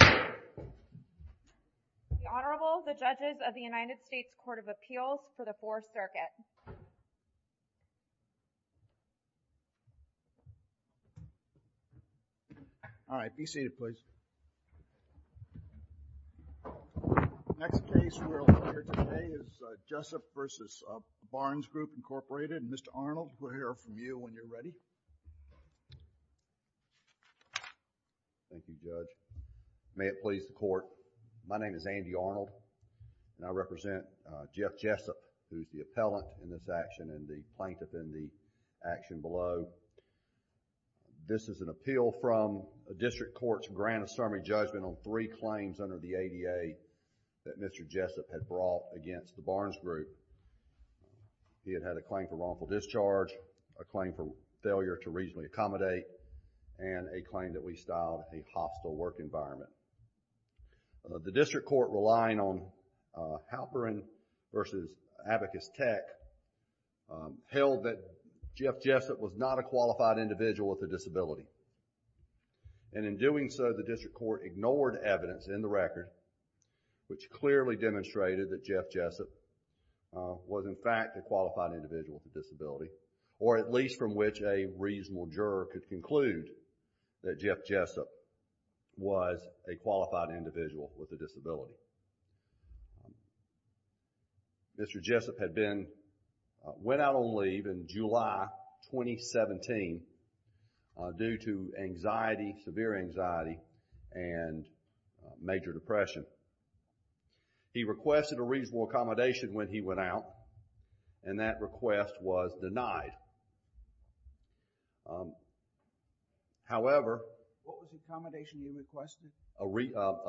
The Honorable, the Judges of the United States Court of Appeals for the Fourth Circuit. All right. Be seated, please. The next case we're looking at today is Jessup v. Barnes Group, Inc. Mr. Arnold, we'll hear from you when you're ready. Thank you, Judge. May it please the Court. My name is Andy Arnold, and I represent Jeff Jessup, who's the appellant in this action, and the plaintiff in the action below. This is an appeal from a district court's grant of summary judgment on three claims under the ADA that Mr. Jessup had brought against the Barnes Group. He had had a claim for lawful discharge, a claim for failure to reasonably accommodate, and a claim that we styled a hostile work environment. The district court, relying on Halperin v. Abacus Tech, held that Jeff Jessup was not a qualified individual with a disability. And in doing so, the district court ignored evidence in the record which clearly demonstrated that Jeff Jessup was, in fact, a qualified individual with a disability, or at least from which a reasonable juror could conclude that Jeff Jessup was a qualified individual with a disability. Mr. Jessup had been, went out on leave in July 2017 due to anxiety, severe anxiety, and major depression. He requested a reasonable accommodation when he went out, and that request was denied. However, What was the accommodation you requested? A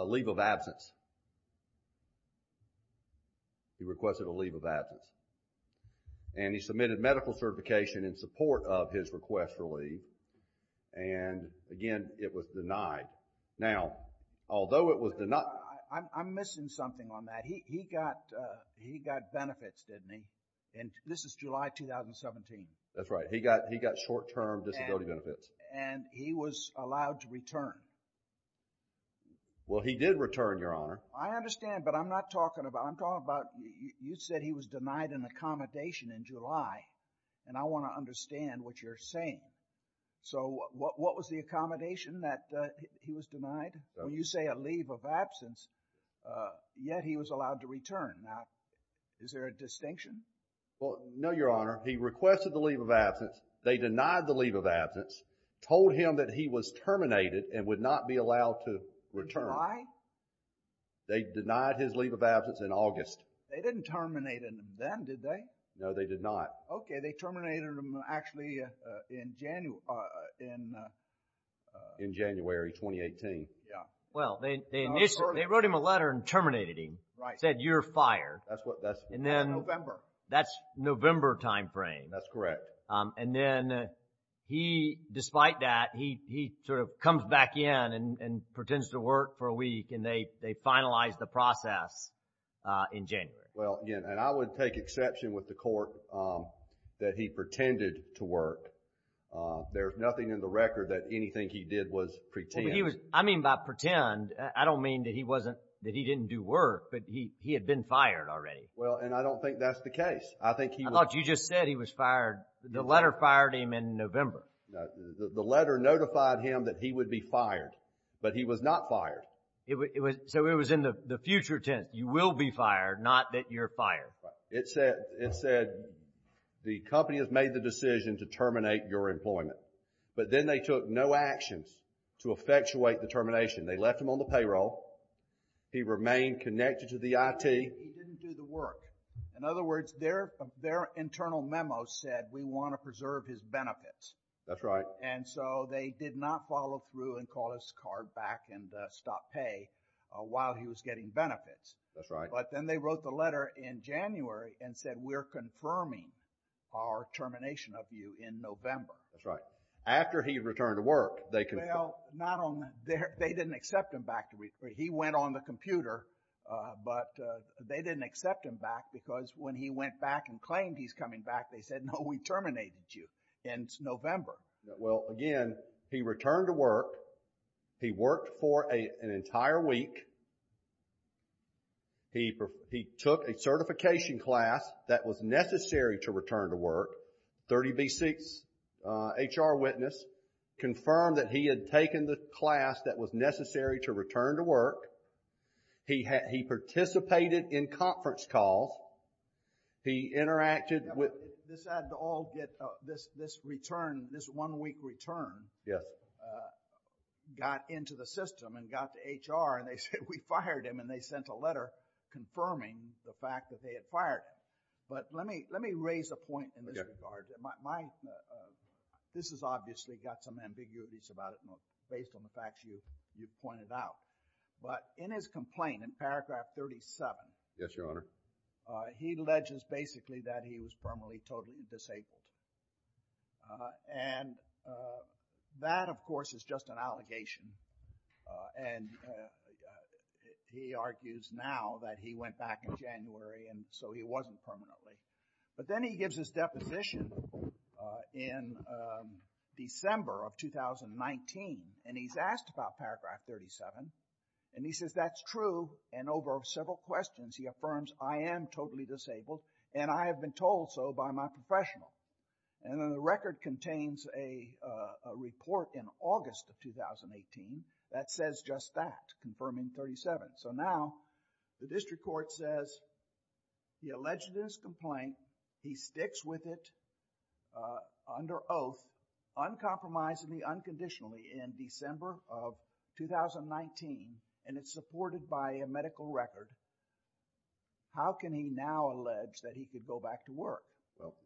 leave of absence. He requested a leave of absence. And he submitted medical certification in support of his request for leave. And, again, it was denied. Now, although it was denied, I'm missing something on that. He got benefits, didn't he? And this is July 2017. That's right. He got short-term disability benefits. And he was allowed to return. Well, he did return, Your Honor. I understand, but I'm not talking about, I'm talking about, you said he was denied an accommodation in July, and I want to understand what you're saying. So what was the accommodation that he was denied? When you say a leave of absence, yet he was allowed to return. Now, is there a distinction? Well, no, Your Honor. He requested the leave of absence. They denied the leave of absence, told him that he was terminated and would not be allowed to return. Denied? They denied his leave of absence in August. They didn't terminate him then, did they? No, they did not. Okay. They terminated him actually in January 2018. Yeah. Well, they wrote him a letter and terminated him. Right. Said, you're fired. That's November. That's November timeframe. That's correct. And then he, despite that, he sort of comes back in and pretends to work for a week, and they finalized the process in January. Well, again, and I would take exception with the court that he pretended to work. There's nothing in the record that anything he did was pretend. I mean by pretend, I don't mean that he didn't do work, but he had been fired already. Well, and I don't think that's the case. I thought you just said he was fired. The letter fired him in November. The letter notified him that he would be fired, but he was not fired. So it was in the future tense. It said you will be fired, not that you're fired. It said the company has made the decision to terminate your employment, but then they took no actions to effectuate the termination. They left him on the payroll. He remained connected to the IT. He didn't do the work. In other words, their internal memo said we want to preserve his benefits. That's right. And so they did not follow through and call his car back and stop pay while he was getting benefits. That's right. But then they wrote the letter in January and said we're confirming our termination of you in November. That's right. After he returned to work, they confirmed. Well, they didn't accept him back. He went on the computer, but they didn't accept him back because when he went back and claimed he's coming back, they said no, we terminated you in November. Well, again, he returned to work. He worked for an entire week. He took a certification class that was necessary to return to work. 30B6 HR witness confirmed that he had taken the class that was necessary to return to work. He participated in conference calls. He interacted with... This one week return got into the system and got to HR, and they said we fired him, and they sent a letter confirming the fact that they had fired him. But let me raise a point in this regard. This has obviously got some ambiguities about it based on the facts you've pointed out. But in his complaint in paragraph 37... Yes, Your Honor. He alleges basically that he was permanently totally disabled. And that, of course, is just an allegation. And he argues now that he went back in January, and so he wasn't permanently. But then he gives his deposition in December of 2019, and he's asked about paragraph 37, and he says that's true, and over several questions he affirms I am totally disabled, and I have been told so by my professional. And then the record contains a report in August of 2018 that says just that, confirming 37. So now the district court says he alleged this complaint, he sticks with it under oath, uncompromisingly, unconditionally in December of 2019, and it's supported by a medical record. How can he now allege that he could go back to work?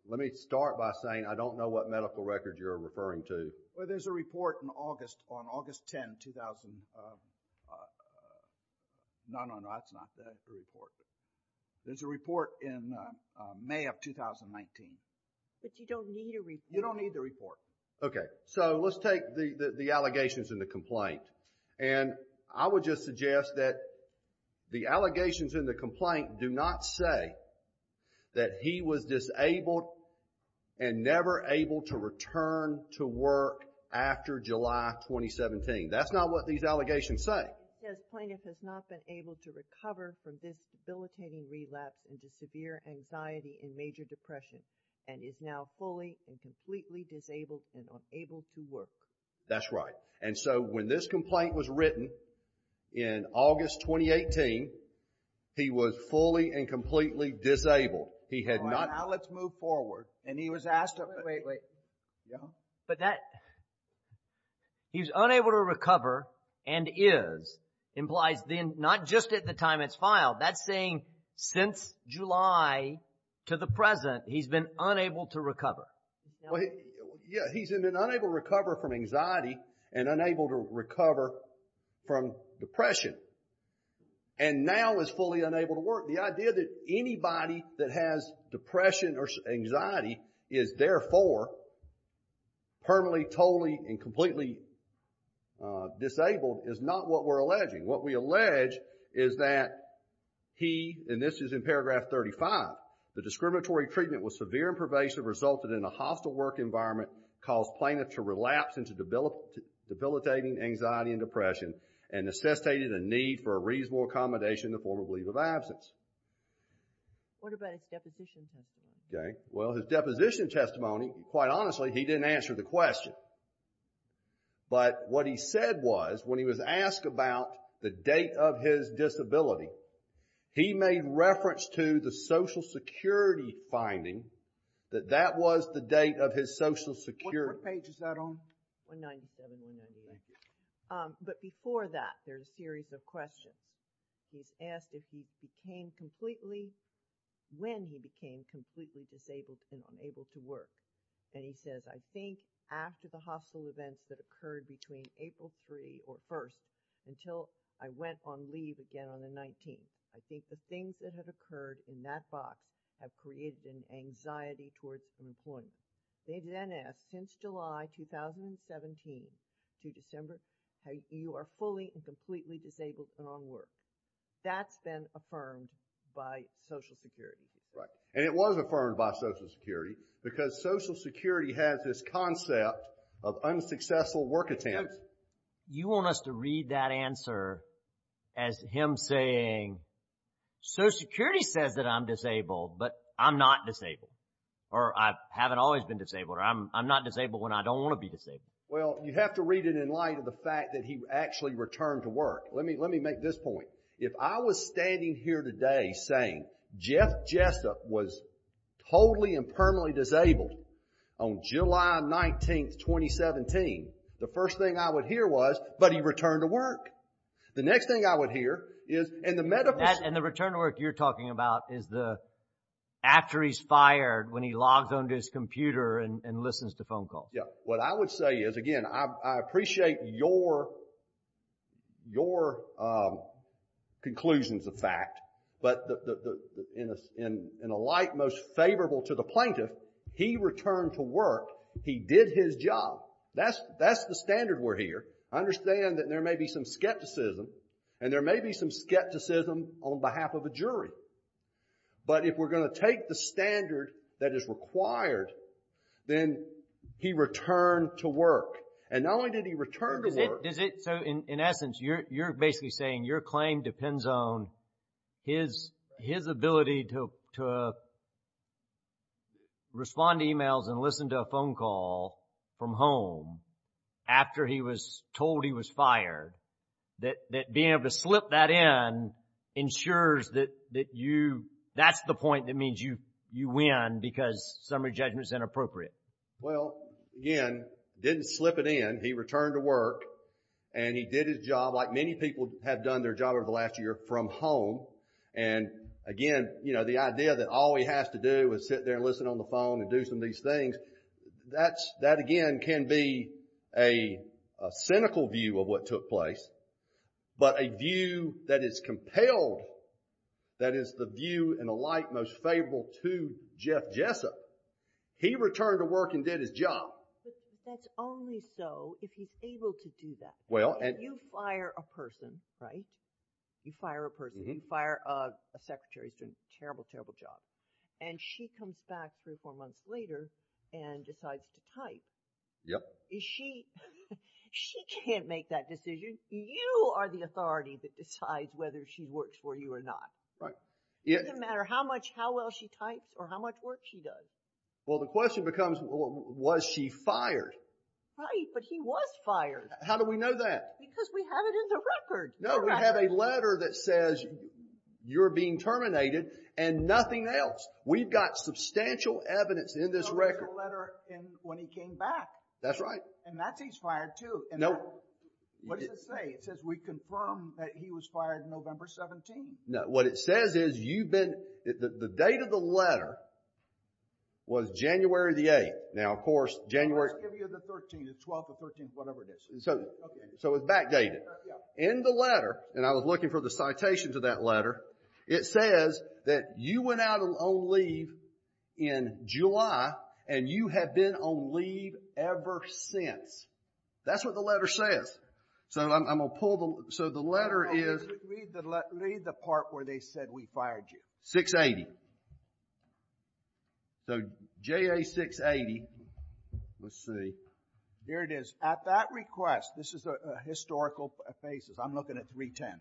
Let me start by saying I don't know what medical record you're referring to. Well, there's a report on August 10, 2000... No, no, no, that's not the report. There's a report in May of 2019. But you don't need a report. You don't need the report. Okay, so let's take the allegations in the complaint, and I would just suggest that the allegations in the complaint do not say that he was disabled and never able to return to work after July 2017. That's not what these allegations say. The plaintiff has not been able to recover from this debilitating relapse into severe anxiety and major depression and is now fully and completely disabled and unable to work. That's right. And so when this complaint was written in August 2018, he was fully and completely disabled. He had not... All right, now let's move forward. And he was asked... Wait, wait, wait. Yeah? But that he was unable to recover and is implies then not just at the time it's filed. That's saying since July to the present, he's been unable to recover. Yeah, he's been unable to recover from anxiety and unable to recover from depression and now is fully unable to work. The idea that anybody that has depression or anxiety is therefore permanently, totally, and completely disabled is not what we're alleging. What we allege is that he, and this is in paragraph 35, the discriminatory treatment was severe and pervasive, resulted in a hostile work environment, caused plaintiff to relapse into debilitating anxiety and depression and necessitated a need for a reasonable accommodation in the form of leave of absence. What about his deposition testimony? Well, his deposition testimony, quite honestly, he didn't answer the question. But what he said was when he was asked about the date of his disability, he made reference to the Social Security finding that that was the date of his Social Security. What page is that on? 197, 198. Thank you. But before that, there's a series of questions. He's asked if he became completely, when he became completely disabled and unable to work. And he says, I think after the hostile events that occurred between April 3 or 1 until I went on leave again on the 19th, I think the things that have occurred in that box have created an anxiety towards unemployment. They then ask, Since July 2017 to December, you are fully and completely disabled and unworked. That's been affirmed by Social Security. Right. And it was affirmed by Social Security because Social Security has this concept of unsuccessful work attempts. You want us to read that answer as him saying, Social Security says that I'm disabled, but I'm not disabled. Or I haven't always been disabled. Or I'm not disabled when I don't want to be disabled. Well, you have to read it in light of the fact that he actually returned to work. Let me make this point. If I was standing here today saying, Jeff Jessup was totally and permanently disabled on July 19, 2017, the first thing I would hear was, But he returned to work. The next thing I would hear is, And the return to work you're talking about is the, after he's fired when he logs onto his computer and listens to phone calls. What I would say is, again, I appreciate your conclusions of fact. But in a light most favorable to the plaintiff, he returned to work. He did his job. That's the standard we're here. I understand that there may be some skepticism. And there may be some skepticism on behalf of a jury. But if we're going to take the standard that is required, then he returned to work. And not only did he return to work. So, in essence, you're basically saying your claim depends on his ability to respond to emails and listen to a phone call from home after he was told he was fired. That being able to slip that in ensures that you, that's the point that means you win because summary judgment is inappropriate. Well, again, didn't slip it in. He returned to work and he did his job like many people have done their job over the last year from home. And, again, you know, the idea that all he has to do is sit there and listen on the phone and do some of these things, that again can be a cynical view of what took place. But a view that is compelled, that is the view in a light most favorable to Jeff Jessup, he returned to work and did his job. Well, that's only so if he's able to do that. You fire a person, right? You fire a person. You fire a secretary who's doing a terrible, terrible job. And she comes back three or four months later and decides to type. She can't make that decision. You are the authority that decides whether she works for you or not. It doesn't matter how well she types or how much work she does. Well, the question becomes was she fired? Right, but he was fired. How do we know that? Because we have it in the record. No, we have a letter that says you're being terminated and nothing else. We've got substantial evidence in this record. There's a letter when he came back. That's right. And that's he's fired too. Nope. What does it say? It says we confirm that he was fired November 17th. What it says is you've been, the date of the letter was January the 8th. Now, of course, January. Let's give you the 13th, the 12th or 13th, whatever it is. So it's backdated. In the letter, and I was looking for the citation to that letter, it says that you went out on leave in July and you have been on leave ever since. That's what the letter says. So I'm going to pull the, so the letter is. Read the part where they said we fired you. 680. So JA 680, let's see. Here it is. At that request, this is a historical basis. I'm looking at 310.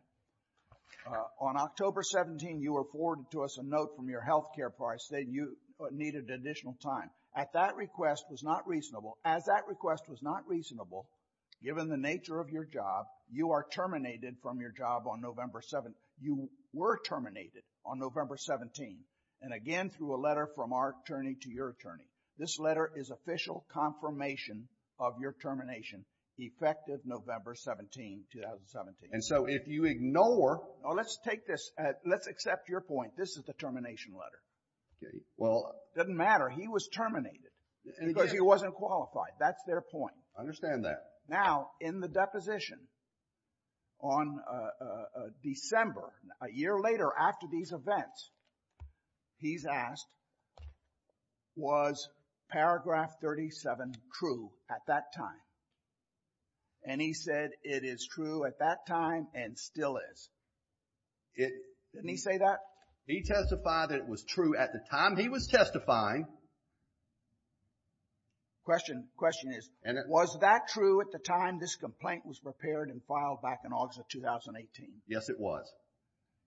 On October 17, you were forwarded to us a note from your health care partner saying you needed additional time. At that request was not reasonable. As that request was not reasonable, given the nature of your job, you are terminated from your job on November 7th. You were terminated on November 17th, and again through a letter from our attorney to your attorney. This letter is official confirmation of your termination, effective November 17, 2017. And so if you ignore. Let's take this. Let's accept your point. This is the termination letter. Well. It doesn't matter. He was terminated because he wasn't qualified. That's their point. I understand that. Now, in the deposition, on December, a year later after these events, he's asked, was paragraph 37 true at that time? And he said it is true at that time and still is. Didn't he say that? He testified that it was true at the time he was testifying. Question is, was that true at the time this complaint was prepared and filed back in August of 2018? Yes, it was.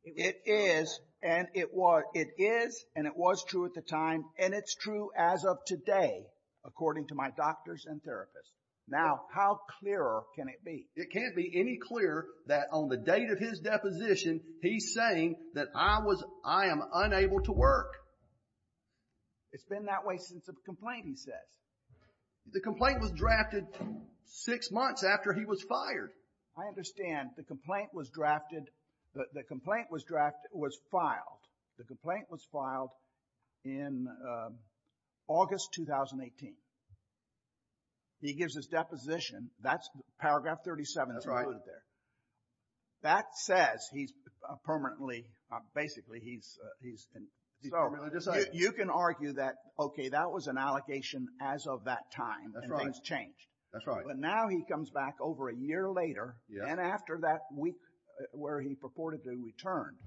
It is, and it was true at the time, and it's true as of today, according to my doctors and therapists. Now, how clearer can it be? It can't be any clearer that on the date of his deposition, he's saying that I am unable to work. It's been that way since the complaint, he says. The complaint was drafted six months after he was fired. I understand. The complaint was drafted. The complaint was filed. The complaint was filed in August 2018. He gives his deposition. Paragraph 37 is included there. That says he's permanently, basically, he's permanently decided. You can argue that, okay, that was an allocation as of that time, and things change. That's right. But now he comes back over a year later, and after that week where he purportedly returned,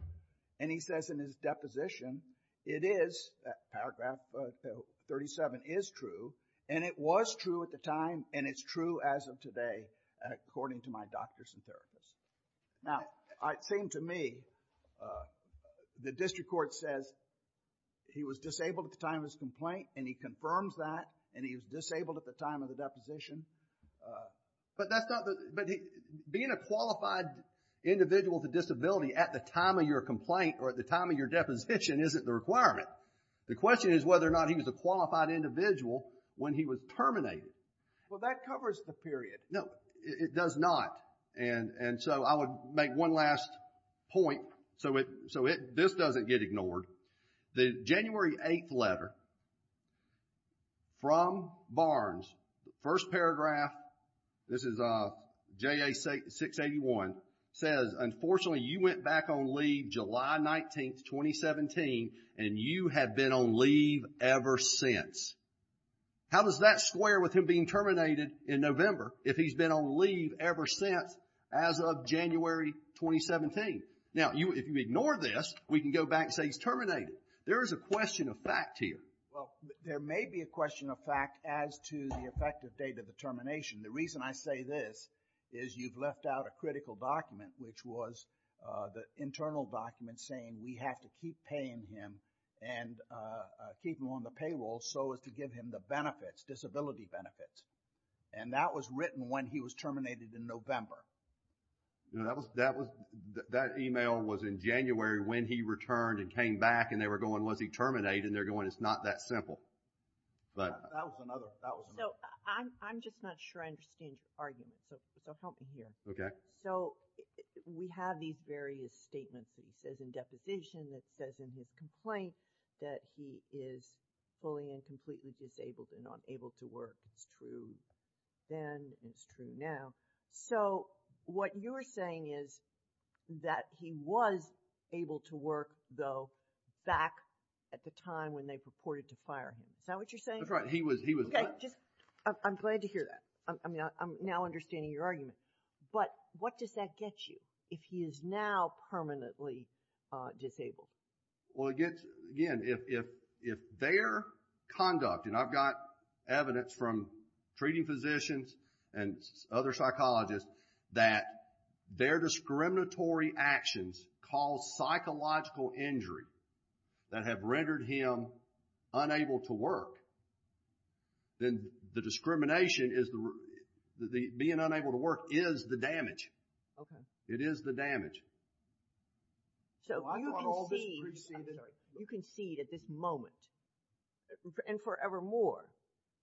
and he says in his deposition, it is, paragraph 37 is true, and it was true at the time, and it's true as of today, according to my doctors and therapists. Now, it seemed to me the district court says he was disabled at the time of his complaint, and he confirms that, and he was disabled at the time of the deposition. But that's not the, but being a qualified individual with a disability at the time of your complaint or at the time of your deposition isn't the requirement. The question is whether or not he was a qualified individual when he was terminated. Well, that covers the period. No, it does not. And so I would make one last point so this doesn't get ignored. The January 8th letter from Barnes, first paragraph, this is JA 681, says, unfortunately, you went back on leave July 19th, 2017, and you have been on leave ever since. How does that square with him being terminated in November if he's been on leave ever since as of January 2017? Now, if you ignore this, we can go back and say he's terminated. There is a question of fact here. Well, there may be a question of fact as to the effective date of the termination. The reason I say this is you've left out a critical document, which was the internal document saying we have to keep paying him and keep him on the payroll so as to give him the benefits, disability benefits. And that was written when he was terminated in November. That email was in January when he returned and came back and they were going, was he terminated? And they're going, it's not that simple. That was another. I'm just not sure I understand your argument, so help me here. Okay. So we have these various statements. It says in deposition. It says in his complaint that he is fully and completely disabled and not able to work. It's true then. It's true now. So what you're saying is that he was able to work, though, back at the time when they purported to fire him. Is that what you're saying? That's right. Okay. I'm glad to hear that. I'm now understanding your argument. But what does that get you? If he is now permanently disabled? Well, it gets, again, if their conduct, and I've got evidence from treating physicians and other psychologists, that their discriminatory actions cause psychological injury that have rendered him unable to work, then the discrimination is the, being unable to work is the damage. Okay. It is the damage. So you concede at this moment and forevermore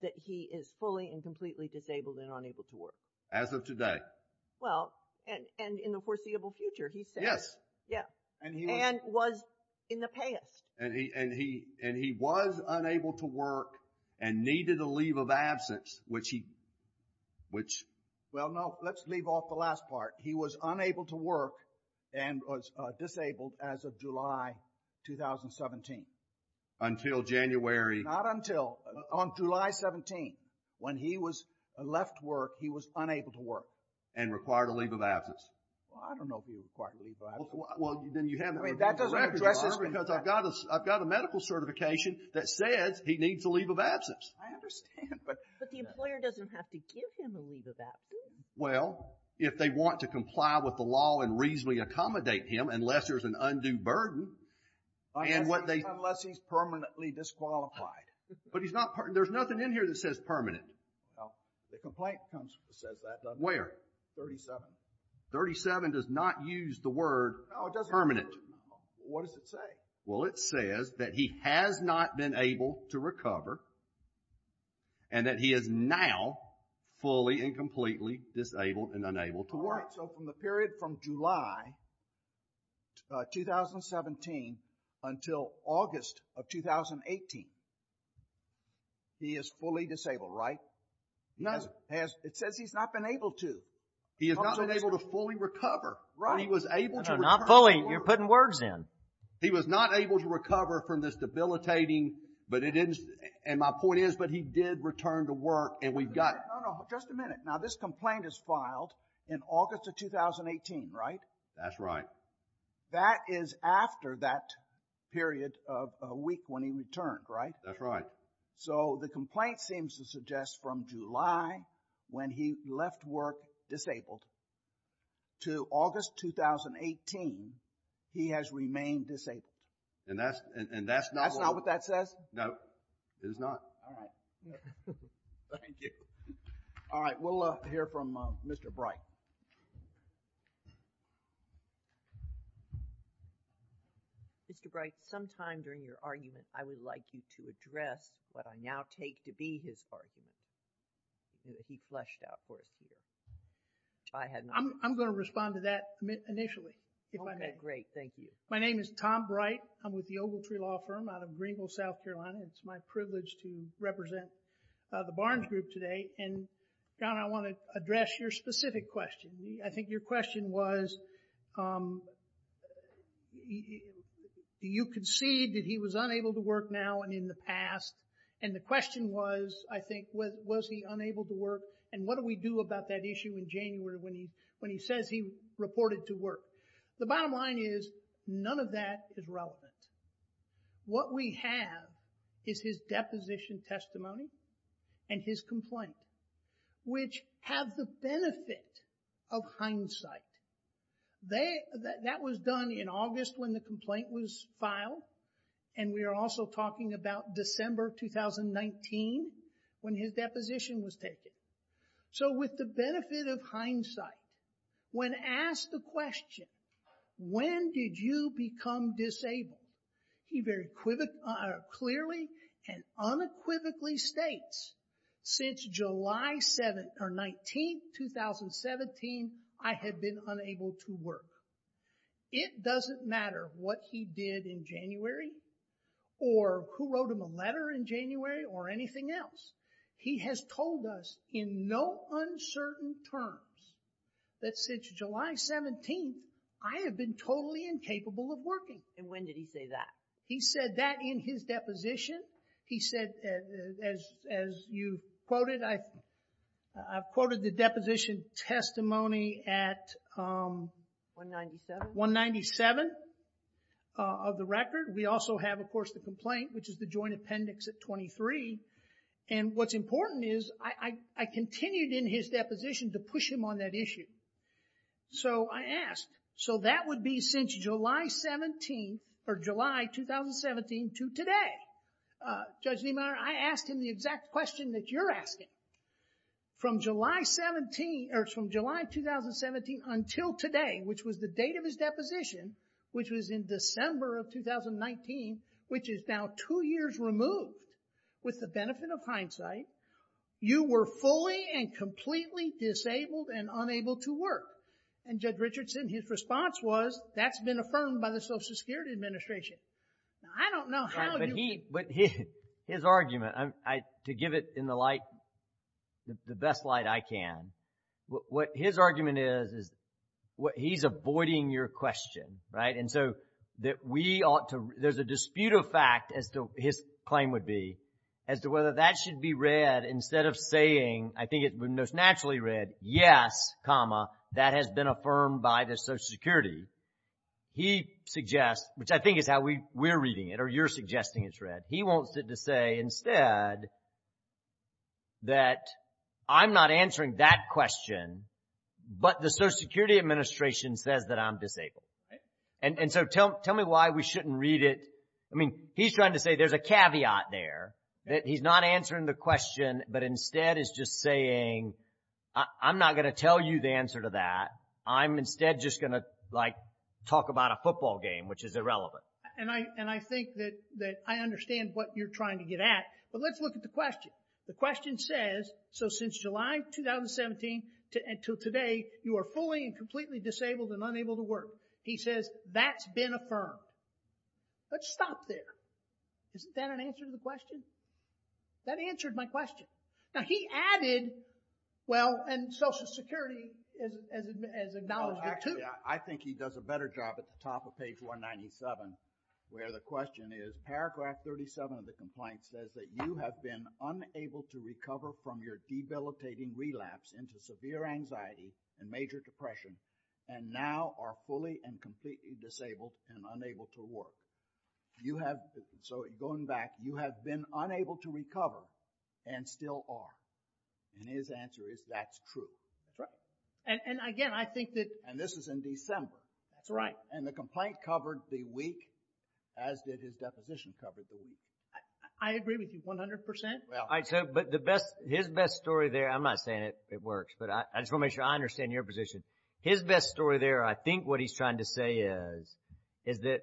that he is fully and completely disabled and unable to work? As of today. Well, and in the foreseeable future, he said. Yes. Yeah. And was in the past. And he was unable to work and needed a leave of absence, which he, which. Well, no. Let's leave off the last part. He was unable to work and was disabled as of July 2017. Until January. Not until. On July 17, when he was left to work, he was unable to work. And required a leave of absence. Well, I don't know if he was required to leave of absence. Well, then you haven't. I mean, that doesn't address this. Because I've got a medical certification that says he needs a leave of absence. I understand. But the employer doesn't have to give him a leave of absence. Well, if they want to comply with the law and reasonably accommodate him, unless there's an undue burden. Unless he's permanently disqualified. But he's not. There's nothing in here that says permanent. No. The complaint says that. Where? 37. 37 does not use the word permanent. No, it doesn't. What does it say? Well, it says that he has not been able to recover. And that he is now fully and completely disabled and unable to work. All right, so from the period from July 2017 until August of 2018, he is fully disabled, right? No. It says he's not been able to. He has not been able to fully recover. Right. Not fully. You're putting words in. He was not able to recover from this debilitating, but it didn't, and my point is, but he did return to work and we got. No, no, just a minute. Now this complaint is filed in August of 2018, right? That's right. That is after that period of a week when he returned, right? That's right. So the complaint seems to suggest from July when he left work disabled to August 2018, he has remained disabled. And that's not what that says? No, it is not. All right. Thank you. All right, we'll hear from Mr. Bright. Mr. Bright, sometime during your argument, I would like you to address what I now take to be his argument, that he fleshed out for us here. I'm going to respond to that initially. Okay, great. Thank you. My name is Tom Bright. I'm with the Ogletree Law Firm out of Greenville, South Carolina, and it's my privilege to represent the Barnes Group today. And, John, I want to address your specific question. I think your question was, you concede that he was unable to work now and in the past, and the question was, I think, was he unable to work and what do we do about that issue in January when he says he reported to work? The bottom line is none of that is relevant. What we have is his deposition testimony and his complaint, which have the benefit of hindsight. That was done in August when the complaint was filed, and we are also talking about December 2019 when his deposition was taken. So, with the benefit of hindsight, when asked the question, when did you become disabled, he very clearly and unequivocally states, since July 19, 2017, I had been unable to work. It doesn't matter what he did in January or who wrote him a letter in January or anything else. He has told us in no uncertain terms that since July 17, I have been totally incapable of working. And when did he say that? He said that in his deposition. He said, as you quoted, I've quoted the deposition testimony at 197 of the record. We also have, of course, the complaint, which is the joint appendix at 23. And what's important is I continued in his deposition to push him on that issue. So, I asked, so that would be since July 17 or July 2017 to today? Judge Niemeyer, I asked him the exact question that you're asking. From July 17, or from July 2017 until today, which was the date of his deposition, which was in December of 2019, which is now two years removed, with the benefit of hindsight, you were fully and completely disabled and unable to work. And Judge Richardson, his response was, that's been affirmed by the Social Security Administration. I don't know how you... But his argument, to give it in the light, the best light I can, what his argument is, is he's avoiding your question, right? And so, that we ought to, there's a dispute of fact, as his claim would be, as to whether that should be read instead of saying, I think it would most naturally read, yes, comma, that has been affirmed by the Social Security. He suggests, which I think is how we're reading it, or you're suggesting it's read, he wants it to say instead, that I'm not answering that question, but the Social Security Administration says that I'm disabled. And so, tell me why we shouldn't read it. I mean, he's trying to say there's a caveat there, that he's not answering the question, but instead is just saying, I'm not going to tell you the answer to that. I'm instead just going to talk about a football game, which is irrelevant. And I think that I understand what you're trying to get at, but let's look at the question. The question says, so since July 2017 until today, you are fully and completely disabled and unable to work. He says, that's been affirmed. Let's stop there. Isn't that an answer to the question? That answered my question. Now, he added, well, and Social Security has acknowledged it, too. Actually, I think he does a better job at the top of page 197, where the question is, paragraph 37 of the complaint says that you have been unable to recover from your debilitating relapse into severe anxiety and major depression, and now are fully and completely disabled and unable to work. You have, so going back, you have been unable to recover and still are. And his answer is, that's true. That's right. And again, I think that... And this is in December. That's right. And the complaint covered the week as did his deposition covered the week. I agree with you 100%. But his best story there, I'm not saying it works, but I just want to make sure I understand your position. His best story there, I think what he's trying to say is, is that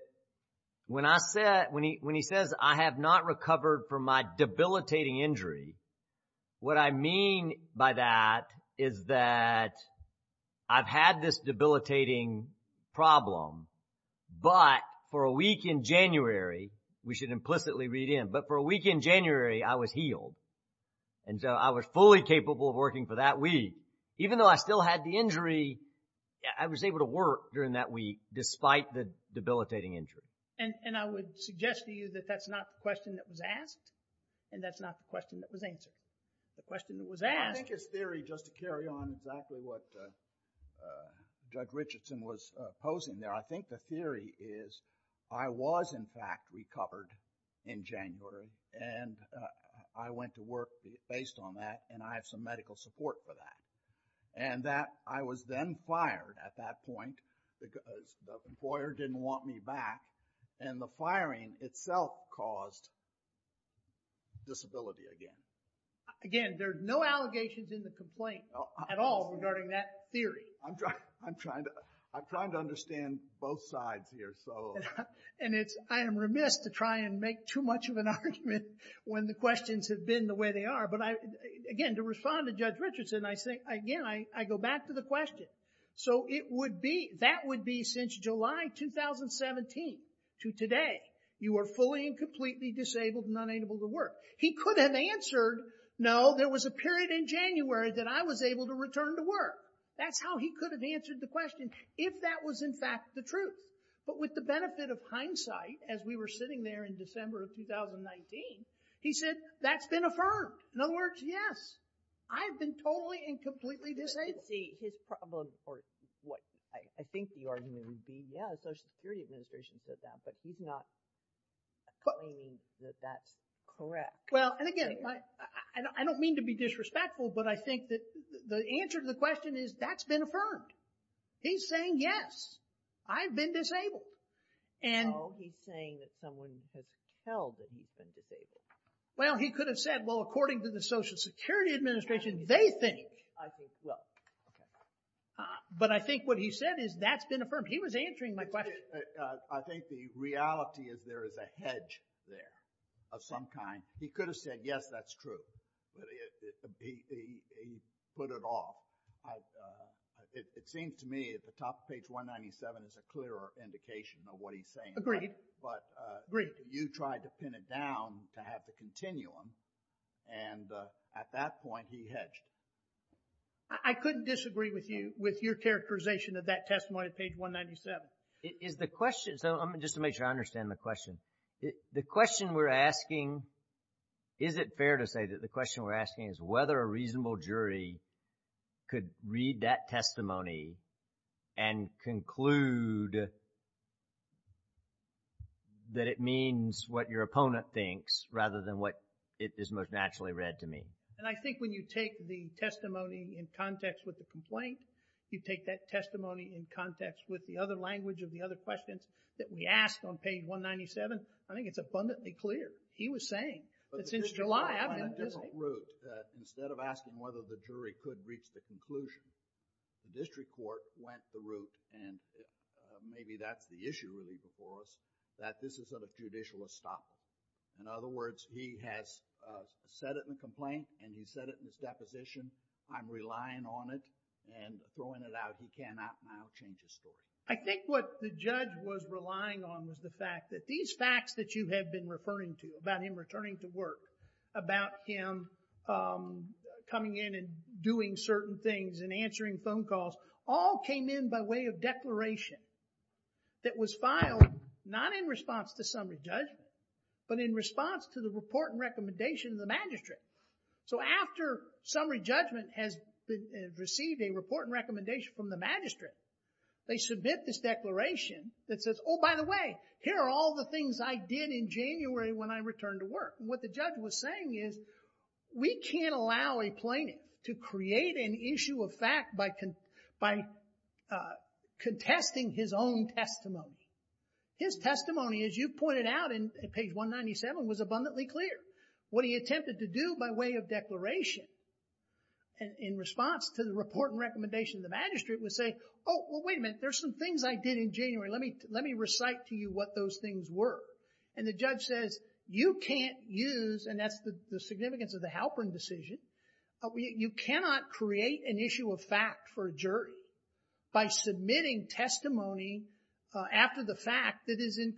when he says, I have not recovered from my debilitating injury, what I mean by that is that I've had this debilitating problem, but for a week in January, we should implicitly read in, but for a week in January, I was healed. And so I was fully capable of working for that week. Even though I still had the injury, I was able to work during that week despite the debilitating injury. And I would suggest to you that that's not the question that was asked and that's not the question that was answered. The question that was asked... I think his theory, just to carry on exactly what Judge Richardson was posing there, I think the theory is, I was in fact recovered in January and I went to work based on that and I have some medical support for that. And that I was then fired at that point because the employer didn't want me back and the firing itself caused disability again. Again, there's no allegations in the complaint at all regarding that theory. I'm trying to understand both sides here. And I am remiss to try and make too much of an argument when the questions have been the way they are. But again, to respond to Judge Richardson, again, I go back to the question. So that would be since July 2017 to today, you are fully and completely disabled and unable to work. He could have answered, no, there was a period in January that I was able to return to work. That's how he could have answered the question if that was in fact the truth. But with the benefit of hindsight, as we were sitting there in December of 2019, he said, that's been affirmed. In other words, yes, I have been totally and completely disabled. Let's see, his problem, or what I think the argument would be, yeah, the Social Security Administration said that, but he's not claiming that that's correct. Well, and again, I don't mean to be disrespectful, but I think that the answer to the question is, that's been affirmed. He's saying, yes, I've been disabled. No, he's saying that someone has held that he's been disabled. Well, he could have said, well, according to the Social Security Administration, they think. I think, well, OK. But I think what he said is, that's been affirmed. He was answering my question. I think the reality is there is a hedge there of some kind. He could have said, yes, that's true. But he put it off. It seems to me at the top of page 197 is a clearer indication of what he's saying. Agreed. But you tried to pin it down to have the continuum. And at that point, he hedged. I couldn't disagree with you, with your characterization of that testimony at page 197. Is the question, so just to make sure I understand the question. The question we're asking, is it fair to say that the question we're asking is whether a reasonable jury could read that testimony and conclude that it means what your opponent thinks rather than what it is most naturally read to mean? And I think when you take the testimony in context with the complaint, you take that testimony in context with the other language of the other questions that we asked on page 197, I think it's abundantly clear. He was saying that since July, I've been busy. But the district court went a different route. Instead of asking whether the jury could reach the conclusion, the district court went the route, and maybe that's the issue really before us, that this is sort of judicial estoppel. In other words, he has said it in the complaint and he's said it in his deposition. I'm relying on it and throwing it out. He cannot now change his story. I think what the judge was relying on was the fact that these facts that you have been referring to about him returning to work, about him coming in and doing certain things and answering phone calls, all came in by way of declaration that was filed not in response to summary judgment, but in response to the report and recommendation of the magistrate. So after summary judgment has received a report and recommendation from the magistrate, they submit this declaration that says, oh, by the way, here are all the things I did in January when I returned to work. What the judge was saying is, we can't allow a plaintiff to create an issue of fact by contesting his own testimony. His testimony, as you pointed out in page 197, was abundantly clear. What he attempted to do by way of declaration in response to the report and recommendation of the magistrate was say, oh, well, wait a minute, there's some things I did in January. Let me recite to you what those things were. And the judge says, you can't use, and that's the significance of the Halpern decision, you cannot create an issue of fact for a jury by submitting testimony after the fact that is in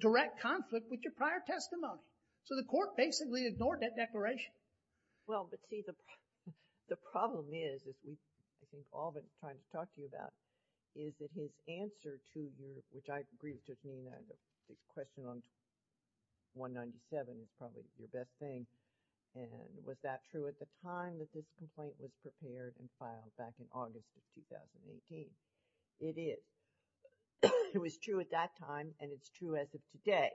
direct conflict with your prior testimony. So the court basically ignored that declaration. Well, but see, the problem is, as we've all been trying to talk to you about, is that his answer to your, which I agree with Judge Mena, the question on 197 is probably your best thing. And was that true at the time that this complaint was prepared and filed back in August of 2018? It is. It was true at that time, and it's true as of today.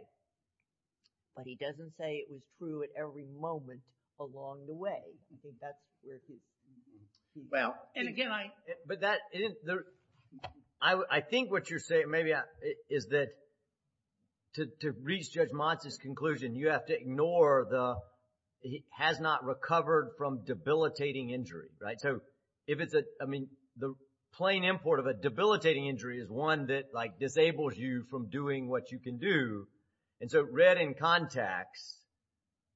But he doesn't say it was true at every moment along the way. I think that's where he is. Well, and again, I think what you're saying, maybe, is that to reach Judge Monson's conclusion, you have to ignore the has not recovered from debilitating injury, right? So if it's a, I mean, the plain import of a debilitating injury is one that disables you from doing what you can do. And so read in context,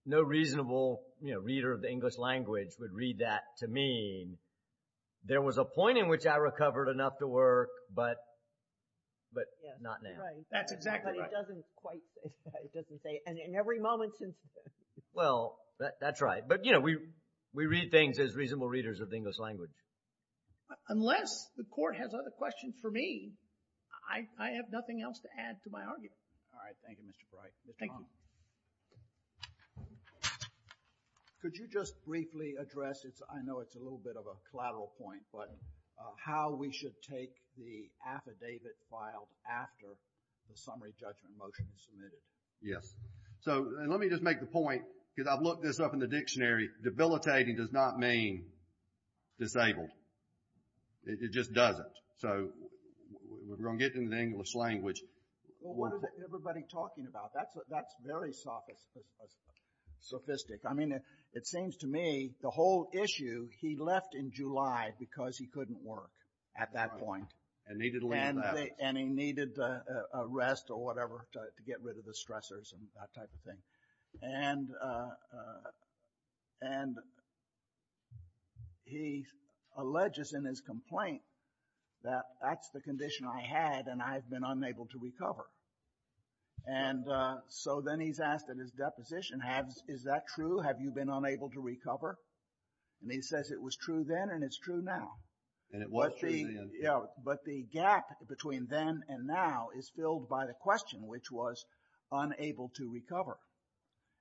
no reasonable reader of the English language would read that to mean, there was a point in which I recovered enough to work, but not now. That's exactly right. But it doesn't quite, it doesn't say, and in every moment since then. Well, that's right. But you know, we read things as reasonable readers of the English language. Unless the court has other questions for me, I have nothing else to add to my argument. All right. Thank you, Mr. Bright. Thank you. Could you just briefly address, I know it's a little bit of a collateral point, but how we should take the affidavit filed after the summary judgment motion is submitted? Yes. So let me just make the point, because I've looked this up in the dictionary, debilitating does not mean disabled. It just doesn't. So we're going to get into the English language. Well, what is everybody talking about? That's very sophisticated. I mean, it seems to me the whole issue, he left in July because he couldn't work at that point. And needed a little rest. And he needed a rest or whatever to get rid of the stressors and that type of thing. And he alleges in his complaint that that's the condition I had and I've been unable to recover. And so then he's asked in his deposition, is that true? Have you been unable to recover? And he says it was true then and it's true now. And it was true then. Yeah. But the gap between then and now is was unable to recover.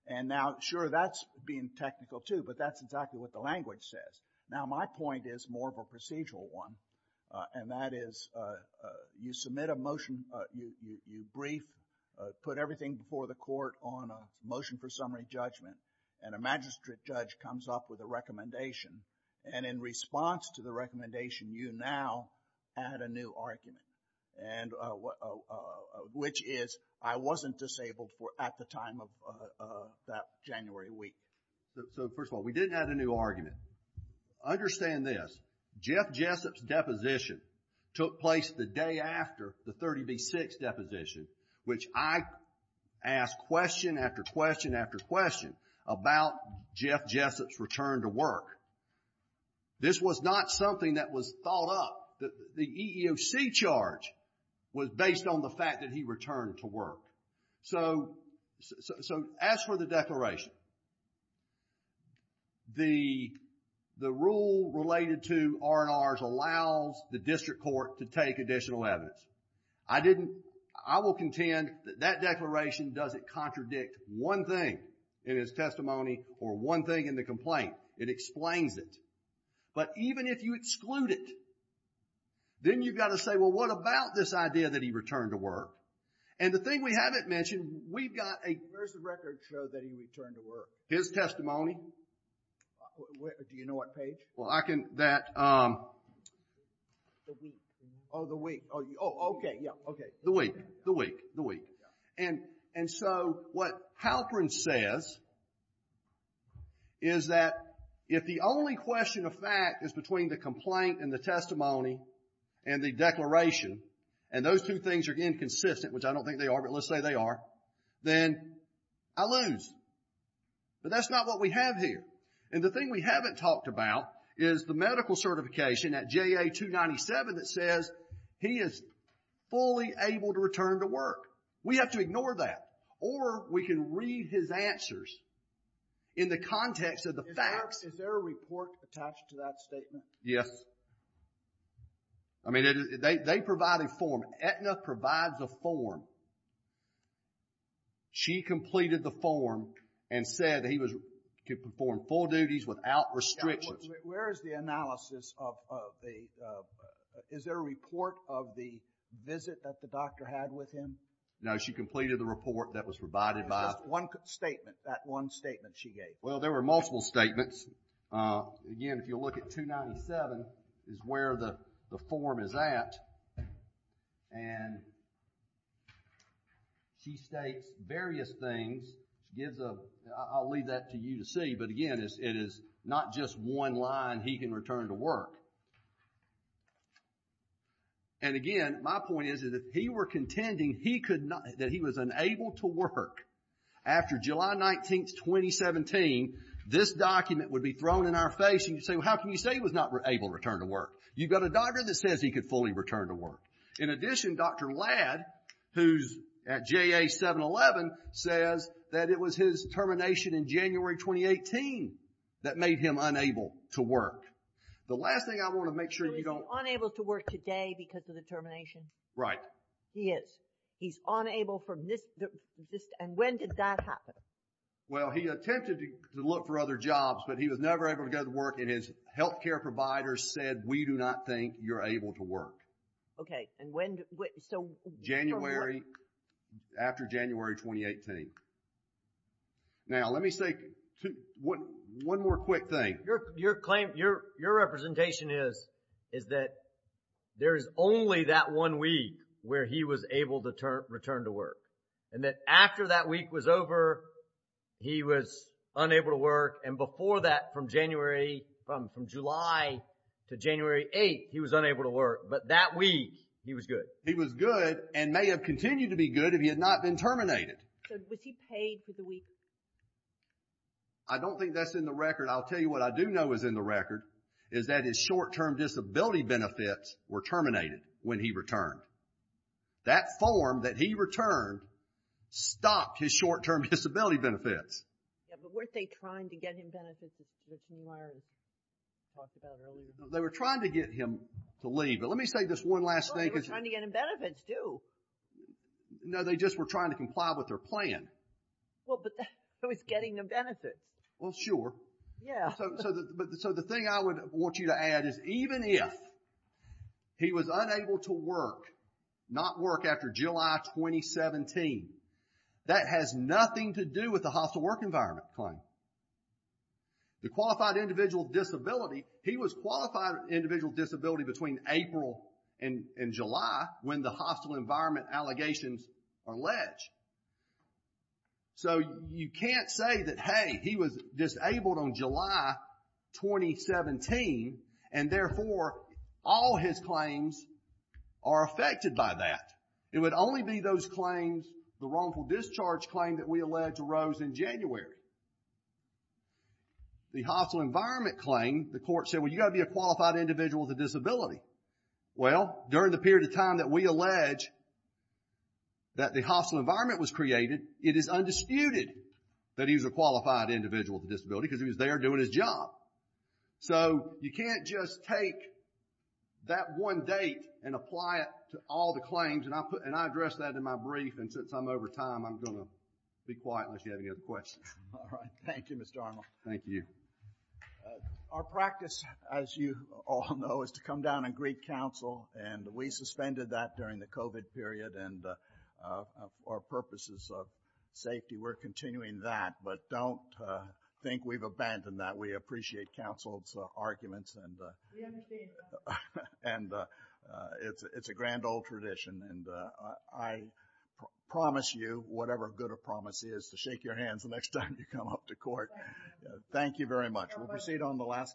And now, sure, that's being technical too, but that's exactly what the language says. Now, my point is more of a procedural one, and that is you submit a motion, you brief, put everything before the court on a motion for summary judgment, and a magistrate judge comes up with a recommendation. And in response to the recommendation, you now add a new argument, which is I wasn't disabled at the time of that January week. So, first of all, we didn't add a new argument. Understand this. Jeff Jessup's deposition took place the day after the 30B6 deposition, which I asked question after question after question about Jeff Jessup's return to work. This was not something that was thought up. The EEOC charge was based on the fact that he returned to work. So, as for the declaration, the rule related to R&Rs allows the district court to take additional evidence. I will contend that that declaration doesn't contradict one thing in his testimony or one thing in the complaint. It explains it. But even if you exclude it, then you've got to say, well, what about this idea that he returned to work? And the thing we haven't mentioned, we've got a... Where's the record show that he returned to work? His testimony. Do you know what page? Well, I can... The week. Oh, the week. Oh, okay, yeah, okay. The week, the week, the week. And so what Halprin says is that if the only question of fact is between the complaint and the testimony and the declaration, and those two things are inconsistent, which I don't think they are, but let's say they are, then I lose. But that's not what we have here. And the thing we haven't talked about is the medical certification at JA-297 that says he is fully able to return to work. We have to ignore that. Or we can read his answers in the context of the facts. Is there a report attached to that statement? Yes. I mean, they provide a form. Aetna provides a form. She completed the form and said that he could perform full duties without restrictions. Where is the analysis of the... Is there a report of the visit that the doctor had with him? No, she completed the report that was provided by... Just one statement, that one statement she gave. Well, there were multiple statements. Again, if you look at 297, is where the form is at. And she states various things. I'll leave that to you to see. But again, it is not just one line, he can return to work. And again, my point is, if he were contending that he was unable to work after July 19th, 2017, this document would be thrown in our face and you'd say, how can you say he was not able to return to work? You've got a doctor that says he could fully return to work. In addition, Dr. Ladd, who's at JA-711, says that it was his termination in January 2018 that made him unable to work. The last thing I want to make sure you don't... Yes, he is. He's unable from this... And when did that happen? Well, he attempted to look for other jobs, but he was never able to go to work and his health care provider said, we do not think you're able to work. Okay, and when... January, after January 2018. Now, let me say one more quick thing. Your claim, your representation is, is that there is only that one week where he was able to return to work and that after that week was over, he was unable to work and before that, from July to January 8th, he was unable to work, but that week, he was good. He was good and may have continued to be good if he had not been terminated. So, was he paid for the week? I don't think that's in the record. I'll tell you what I do know is in the record is that his short-term disability benefits were terminated when he returned. That form that he returned stopped his short-term disability benefits. Yeah, but weren't they trying to get him benefits as you talked about earlier? They were trying to get him to leave, but let me say this one last thing. Well, they were trying to get him benefits too. No, they just were trying to comply with their plan. Well, but that was getting them benefits. Well, sure. Yeah. So, the thing I would want you to add is even if he was unable to work, not work after July 2017, that has nothing to do with the hostile work environment claim. The qualified individual disability, he was qualified individual disability between April and July when the hostile environment allegations are alleged. So, you can't say that, hey, he was disabled on July 2017 and therefore all his claims are affected by that. It would only be those claims, the wrongful discharge claim that we allege arose in January. The hostile environment claim, the court said, well, you've got to be a qualified individual with a disability. Well, during the period of time that we allege that the hostile environment was created, it is undisputed that he was a qualified individual with a disability because he was there doing his job. So, you can't just take that one date and apply it to all the claims. And I address that in my brief. And since I'm over time, I'm going to be quiet unless you have any other questions. All right. Thank you, Mr. Arnold. Thank you. Our practice, as you all know, is to come down and greet counsel. And we suspended that during the COVID period for purposes of safety. We're continuing that. But don't think we've abandoned that. We appreciate counsel's arguments. We understand that. And it's a grand old tradition. And I promise you, whatever good a promise is, to shake your hands the next time you come up to court. Thank you very much. We'll proceed on the last case.